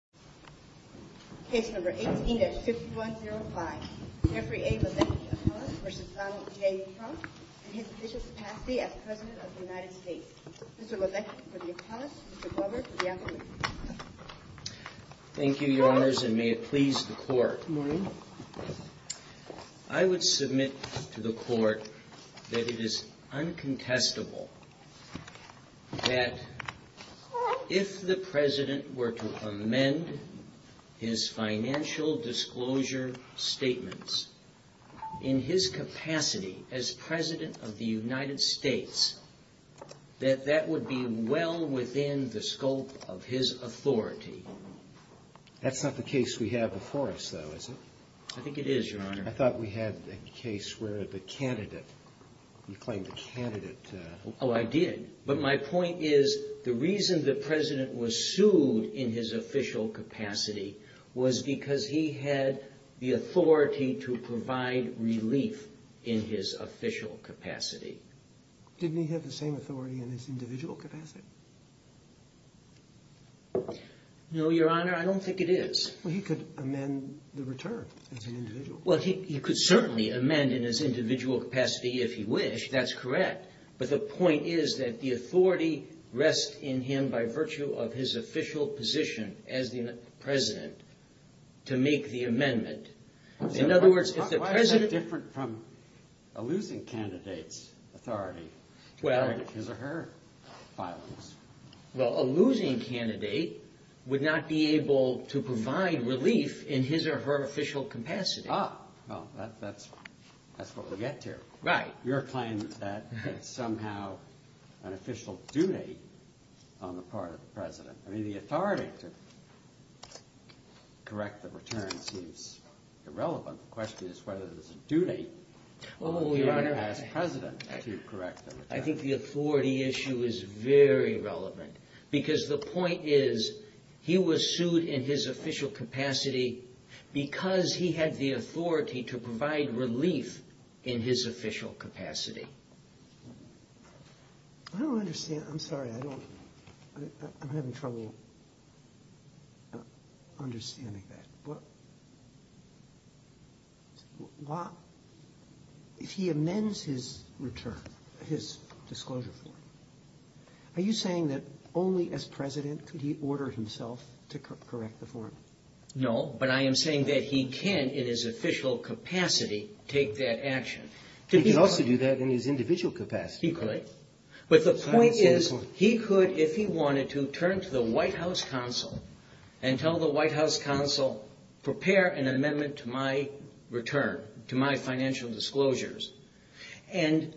Mr. Lovitky, for the applause. Mr. Glover, for the accolade. Thank you, Your Honors, and may it please the Court. Good morning. I would submit to the Court that it is uncontestable that if the President were to amend his financial disclosure statements, in his capacity as President of the United States, that that would be well within the scope of his authority. That's not the case we have before us, though, is it? I think it is, Your Honor. I thought we had a case where the candidate, you claimed the candidate... Oh, I did. But my point is, the reason the President was sued in his official capacity was because he had the authority to provide relief in his official capacity. Didn't he have the same authority in his individual capacity? No, Your Honor, I don't think it is. Well, he could amend the return as an individual. Well, he could certainly amend in his individual capacity if he wished, that's correct. But the point is that the authority rests in him by virtue of his official position as the President to make the amendment. Why is that different from a losing candidate's authority to correct his or her filings? Well, a losing candidate would not be able to provide relief in his or her official capacity. Ah, well, that's what we get to. Right. Your claim that it's somehow an official duty on the part of the President. I mean, the authority to correct the return seems irrelevant. The question is whether it's a duty on the part of the President to correct the return. I think the authority issue is very relevant because the point is he was sued in his official capacity because he had the authority to provide relief in his official capacity. I don't understand. I'm sorry. I don't. I'm having trouble understanding that. Why, if he amends his return, his disclosure form, are you saying that only as President could he order himself to correct the form? No, but I am saying that he can, in his official capacity, take that action. He can also do that in his individual capacity. He could. But the point is he could, if he wanted to, turn to the White House Counsel and tell the White House Counsel, prepare an amendment to my return, to my financial disclosures. And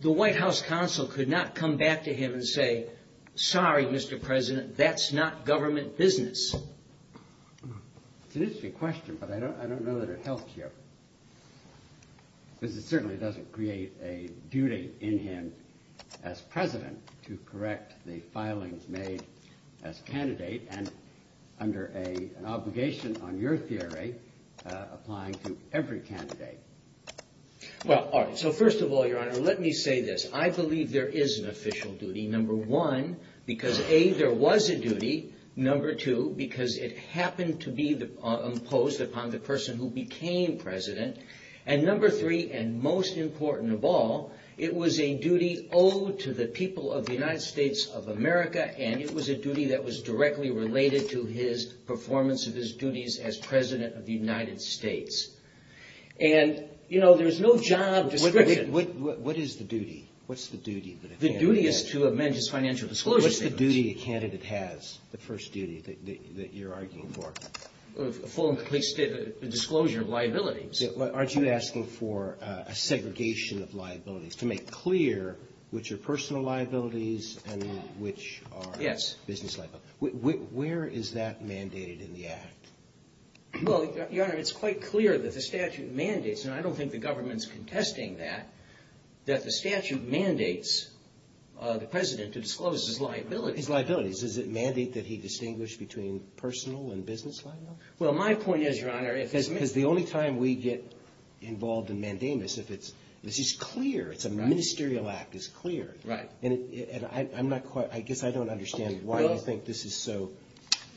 the White House Counsel could not come back to him and say, sorry, Mr. President, that's not government business. It's an interesting question, but I don't know that it helps you. Because it certainly doesn't create a duty in him as President to correct the filings made as candidate and under an obligation, on your theory, applying to every candidate. Well, all right, so first of all, Your Honor, let me say this. I believe there is an official duty, number one, because, A, there was a duty, number two, because it happened to be imposed upon the person who became President, and number three, and most important of all, it was a duty owed to the people of the United States of America, and it was a duty that was directly related to his performance of his duties as President of the United States. And, you know, there's no job description. What is the duty? What's the duty that a candidate has? The duty is to amend his financial disclosures. What's the duty a candidate has, the first duty that you're arguing for? A full and complete disclosure of liabilities. Aren't you asking for a segregation of liabilities, to make clear which are personal liabilities and which are business liabilities? Yes. Where is that mandated in the Act? Well, Your Honor, it's quite clear that the statute mandates, and I don't think the government's contesting that, that the statute mandates the President to disclose his liabilities. His liabilities. Does it mandate that he distinguish between personal and business liabilities? Well, my point is, Your Honor, if it's a ministerial act. Because the only time we get involved in mandamus, if it's, this is clear, it's a ministerial act, it's clear. Right. And I'm not quite, I guess I don't understand why you think this is so clear.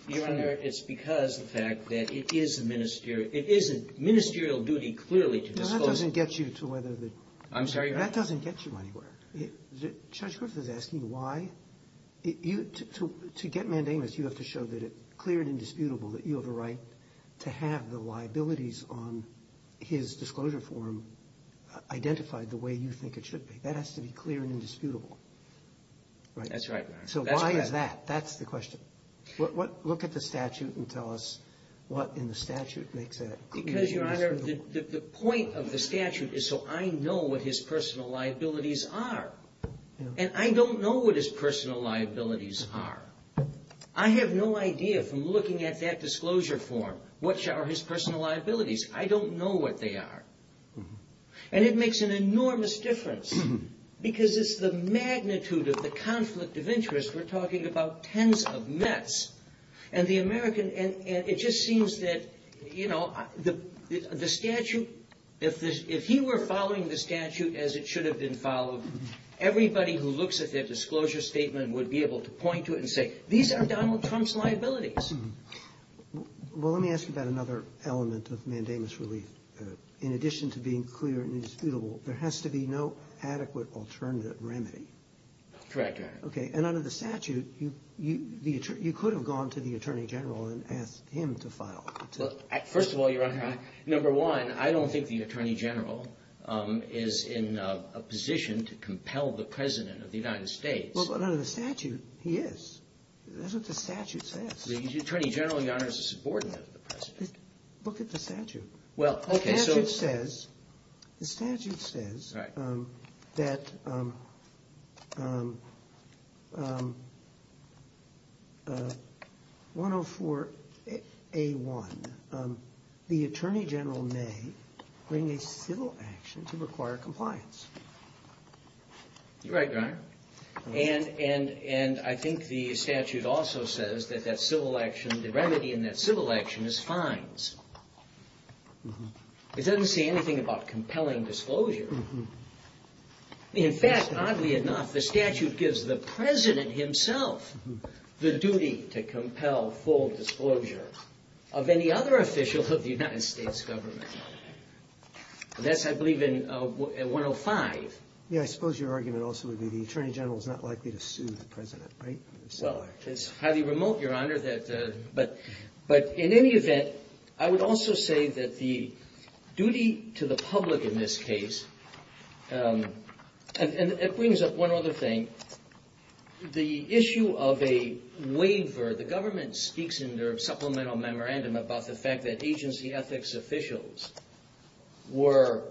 Your Honor, it's because of the fact that it is a ministerial, it is a ministerial duty clearly to disclose. Well, that doesn't get you to whether the. I'm sorry, Your Honor. That doesn't get you anywhere. Judge Griffith is asking you why. To get mandamus, you have to show that it's clear and indisputable that you have a right to have the liabilities on his disclosure form identified the way you think it should be. That has to be clear and indisputable. That's right, Your Honor. So why is that? That's the question. Look at the statute and tell us what in the statute makes that clear and indisputable. Because, Your Honor, the point of the statute is so I know what his personal liabilities are. And I don't know what his personal liabilities are. I have no idea from looking at that disclosure form what are his personal liabilities. I don't know what they are. And it makes an enormous difference because it's the magnitude of the conflict of interest. We're talking about tens of mets. And the American and it just seems that, you know, the statute, if he were following the statute as it should have been followed, everybody who looks at their disclosure statement would be able to point to it and say, these are Donald Trump's liabilities. Well, let me ask you about another element of mandamus relief. In addition to being clear and indisputable, there has to be no adequate alternative remedy. Correct, Your Honor. Okay. And under the statute, you could have gone to the attorney general and asked him to file. First of all, Your Honor, number one, I don't think the attorney general is in a position to compel the president of the United States. But under the statute, he is. That's what the statute says. The attorney general, Your Honor, is a subordinate of the president. Look at the statute. Well, the statute says that 104A1, the attorney general may bring a civil action to require compliance. You're right, Your Honor. And I think the statute also says that that civil action, the remedy in that civil action is fines. It doesn't say anything about compelling disclosure. In fact, oddly enough, the statute gives the president himself the duty to compel full disclosure of any other official of the United States government. That's, I believe, in 105. Yes. I suppose your argument also would be the attorney general is not likely to sue the president, right? Well, it's highly remote, Your Honor. But in any event, I would also say that the duty to the public in this case, and it brings up one other thing, the issue of a waiver. Remember, the government speaks in their supplemental memorandum about the fact that agency ethics officials were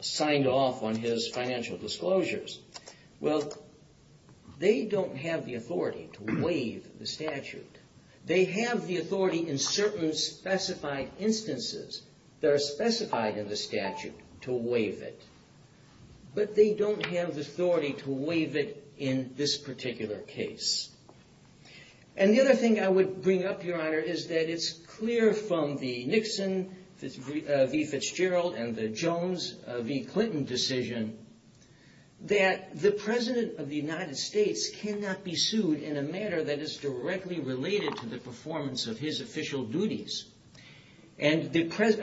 signed off on his financial disclosures. Well, they don't have the authority to waive the statute. They have the authority in certain specified instances that are specified in the statute to waive it. But they don't have the authority to waive it in this particular case. And the other thing I would bring up, Your Honor, is that it's clear from the Nixon v. Fitzgerald and the Jones v. Clinton decision that the president of the United States cannot be sued in a matter that is directly related to the performance of his official duties. And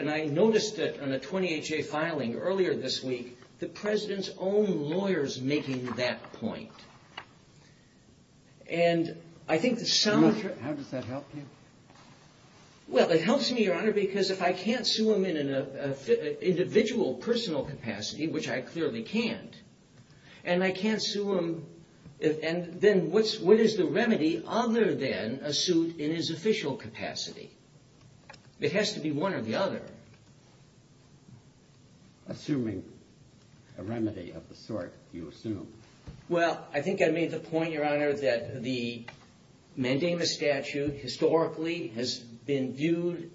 I noticed that on a 20HA filing earlier this week, the president's own lawyers making that point. How does that help you? Well, it helps me, Your Honor, because if I can't sue him in an individual personal capacity, which I clearly can't, and I can't sue him, then what is the remedy other than a suit in his official capacity? It has to be one or the other. Assuming a remedy of the sort, you assume. Well, I think I made the point, Your Honor, that the mandamus statute historically has been viewed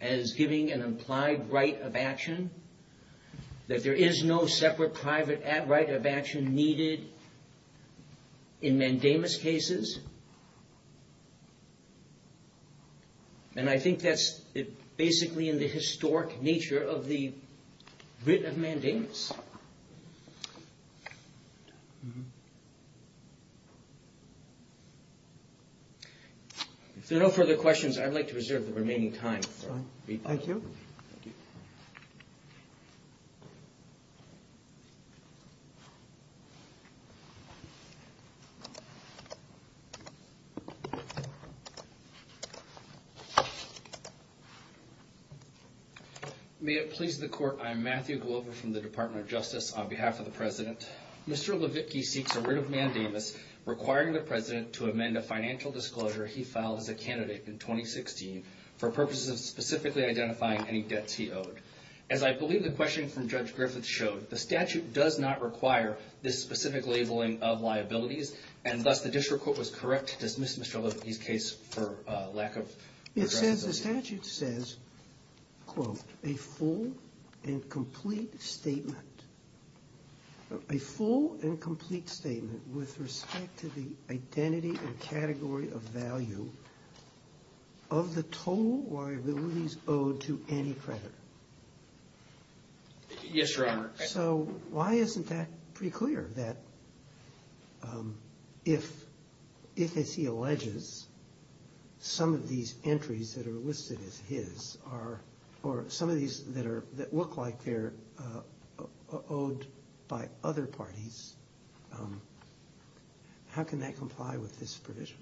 as giving an implied right of action, that there is no separate private right of action needed in mandamus cases. And I think that's basically in the historic nature of the writ of mandamus. If there are no further questions, I'd like to reserve the remaining time. Thank you. May it please the Court, I am Matthew Glover from the Department of Justice. On behalf of the president, Mr. Levitky seeks a writ of mandamus requiring the president to amend a financial disclosure he filed as a candidate in 2016 for purposes of specifically identifying any debts he owed. As I believe the questioning from Judge Griffiths showed, the statute does not require this specific labeling of liabilities, and thus the district court was correct to dismiss Mr. Levitky's case for lack of progress. Because the statute says, quote, a full and complete statement. A full and complete statement with respect to the identity and category of value of the total liabilities owed to any creditor. Yes, Your Honor. So why isn't that pretty clear, that if, as he alleges, some of these entries that are listed as his, or some of these that look like they're owed by other parties, how can that comply with this provision?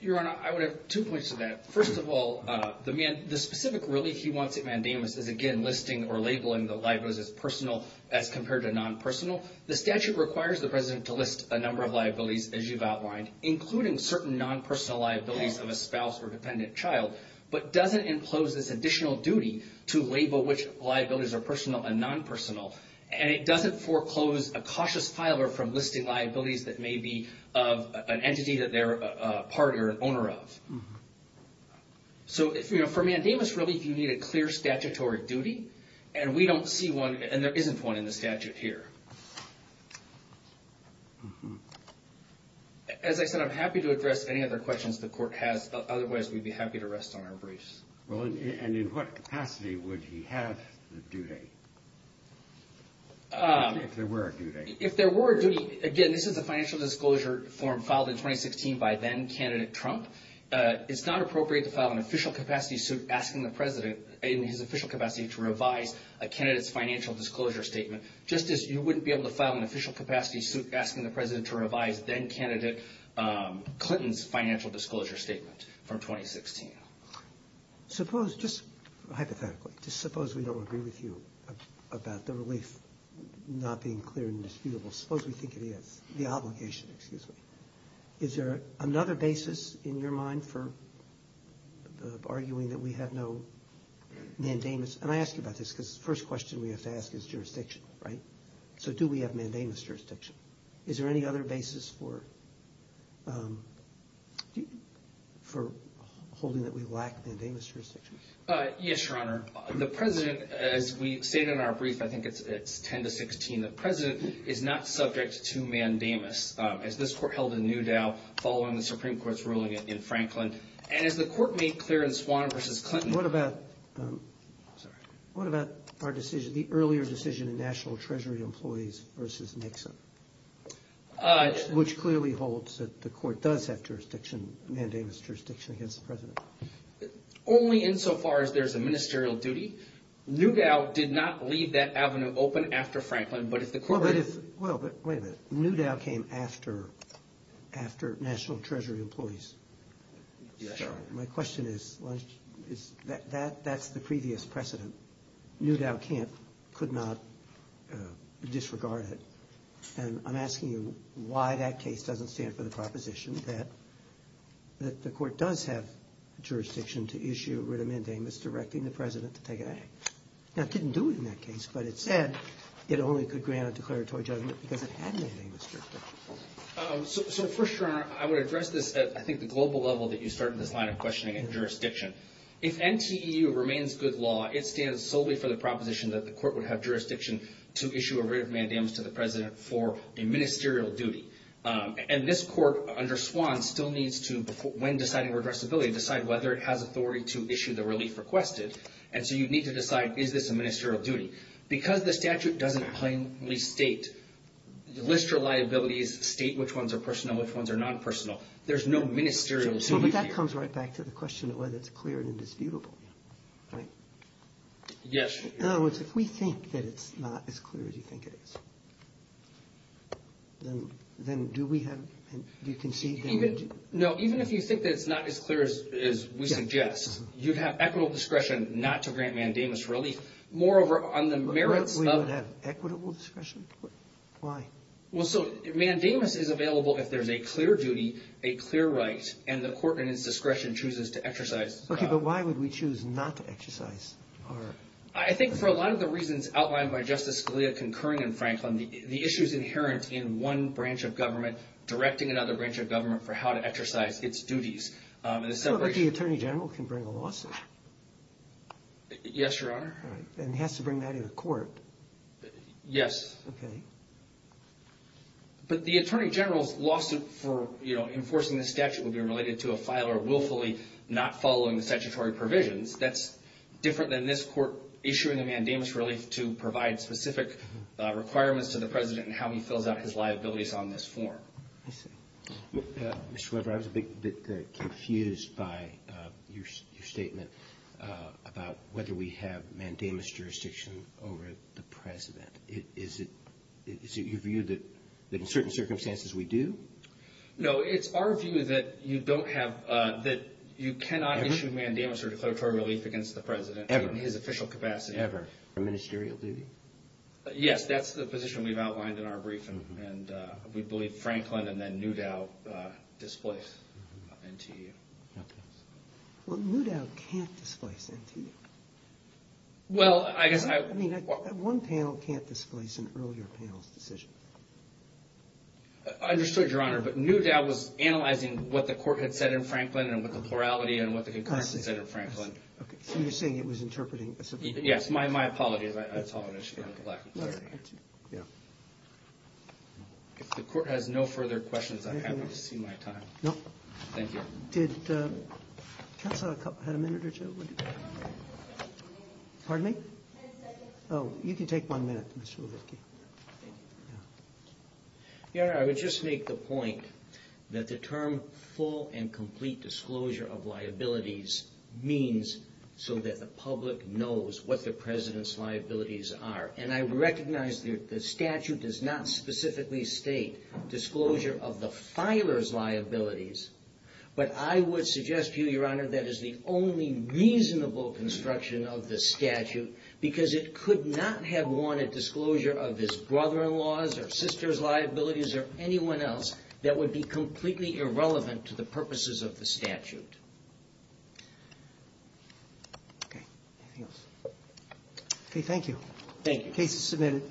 Your Honor, I would have two points to that. First of all, the specific relief he wants at mandamus is, again, listing or labeling the liabilities as personal as compared to non-personal. The statute requires the president to list a number of liabilities, as you've outlined, including certain non-personal liabilities of a spouse or dependent child, but doesn't impose this additional duty to label which liabilities are personal and non-personal. And it doesn't foreclose a cautious filer from listing liabilities that may be of an entity that they're a party or an owner of. So for mandamus relief, you need a clear statutory duty, and we don't see one, and there isn't one in the statute here. As I said, I'm happy to address any other questions the Court has. Otherwise, we'd be happy to rest on our brace. Well, and in what capacity would he have the duty, if there were a duty? If there were a duty, again, this is a financial disclosure form filed in 2016 by then-candidate Trump. It's not appropriate to file an official capacity suit asking the president, in his official capacity, to revise a candidate's financial disclosure statement, just as you wouldn't be able to file an official capacity suit asking the president to revise then-candidate Clinton's financial disclosure statement from 2016. Suppose, just hypothetically, just suppose we don't agree with you about the relief not being clear and indisputable. Suppose we think it is, the obligation, excuse me. Is there another basis in your mind for arguing that we have no mandamus? And I ask you about this, because the first question we have to ask is jurisdiction, right? So do we have mandamus jurisdiction? Is there any other basis for holding that we lack mandamus jurisdiction? Yes, Your Honor. The president, as we stated in our brief, I think it's 10 to 16, the president is not subject to mandamus, as this court held in Newdow following the Supreme Court's ruling in Franklin. And as the court made clear in Swan v. Clinton... What about our decision, the earlier decision in National Treasury Employees v. Nixon, which clearly holds that the court does have jurisdiction, mandamus jurisdiction against the president? Only insofar as there's a ministerial duty. Newdow did not leave that avenue open after Franklin, but if the court... Well, but wait a minute. Newdow came after National Treasury Employees. My question is, that's the previous precedent. Newdow can't, could not disregard it. And I'm asking you why that case doesn't stand for the proposition that the court does have jurisdiction to issue a writ of mandamus directing the president to take an act. Now, it didn't do it in that case, but it said it only could grant a declaratory judgment because it had mandamus jurisdiction. So first, Your Honor, I would address this at, I think, the global level that you started this line of questioning and jurisdiction. If NTEU remains good law, it stands solely for the proposition that the court would have jurisdiction to issue a writ of mandamus to the president for a ministerial duty. And this court, under Swan, still needs to, when deciding redressability, decide whether it has authority to issue the relief requested. And so you need to decide, is this a ministerial duty? Because the statute doesn't plainly state, list your liabilities, state which ones are personal, which ones are non-personal. There's no ministerial duty here. But that comes right back to the question of whether it's clear and indisputable. In other words, if we think that it's not as clear as you think it is, then do we have, do you concede that... No, even if you think that it's not as clear as we suggest, you'd have equitable discretion not to grant mandamus relief. Moreover, on the merits of... And the court, in its discretion, chooses to exercise... Okay, but why would we choose not to exercise our... I think for a lot of the reasons outlined by Justice Scalia concurring in Franklin, the issues inherent in one branch of government directing another branch of government for how to exercise its duties. Well, the Attorney General can bring a lawsuit. Yes, Your Honor. And he has to bring that to the court. Yes. But the Attorney General's lawsuit for enforcing the statute would be related to a filer willfully not following the statutory provisions. That's different than this court issuing a mandamus relief to provide specific requirements to the President and how he fills out his liabilities on this form. Mr. Weber, I was a bit confused by your statement about whether we have mandamus jurisdiction over the President. Is it your view that in certain circumstances we do? No, it's our view that you don't have, that you cannot issue mandamus or declaratory relief against the President... Ever. ...in his official capacity. Ever. For ministerial duty? Yes, that's the position we've outlined in our briefing, and we believe Franklin and then Newdow displace NTE. Well, Newdow can't displace NTE. Well, I guess I... I mean, one panel can't displace an earlier panel's decision. I understood, Your Honor, but Newdow was analyzing what the court had said in Franklin and what the plurality and what the concurrence had said in Franklin. So you're saying it was interpreting a... Yes, my apologies. I saw an issue with the lack of clarity here. Yeah. If the court has no further questions, I'm happy to see my time. No. Thank you. Did counsel have a minute or two? Pardon me? Ten seconds. Oh, you can take one minute, Mr. Levitky. Thank you. Yeah. Your Honor, I would just make the point that the term full and complete disclosure of liabilities means so that the public knows what the president's liabilities are. And I recognize the statute does not specifically state disclosure of the filer's liabilities, but I would suggest to you, Your Honor, that is the only reasonable construction of the statute, because it could not have warranted disclosure of his brother-in-law's or sister's liabilities or anyone else that would be completely irrelevant to the purposes of the statute. Okay. Anything else? Okay, thank you. Thank you. Case is submitted.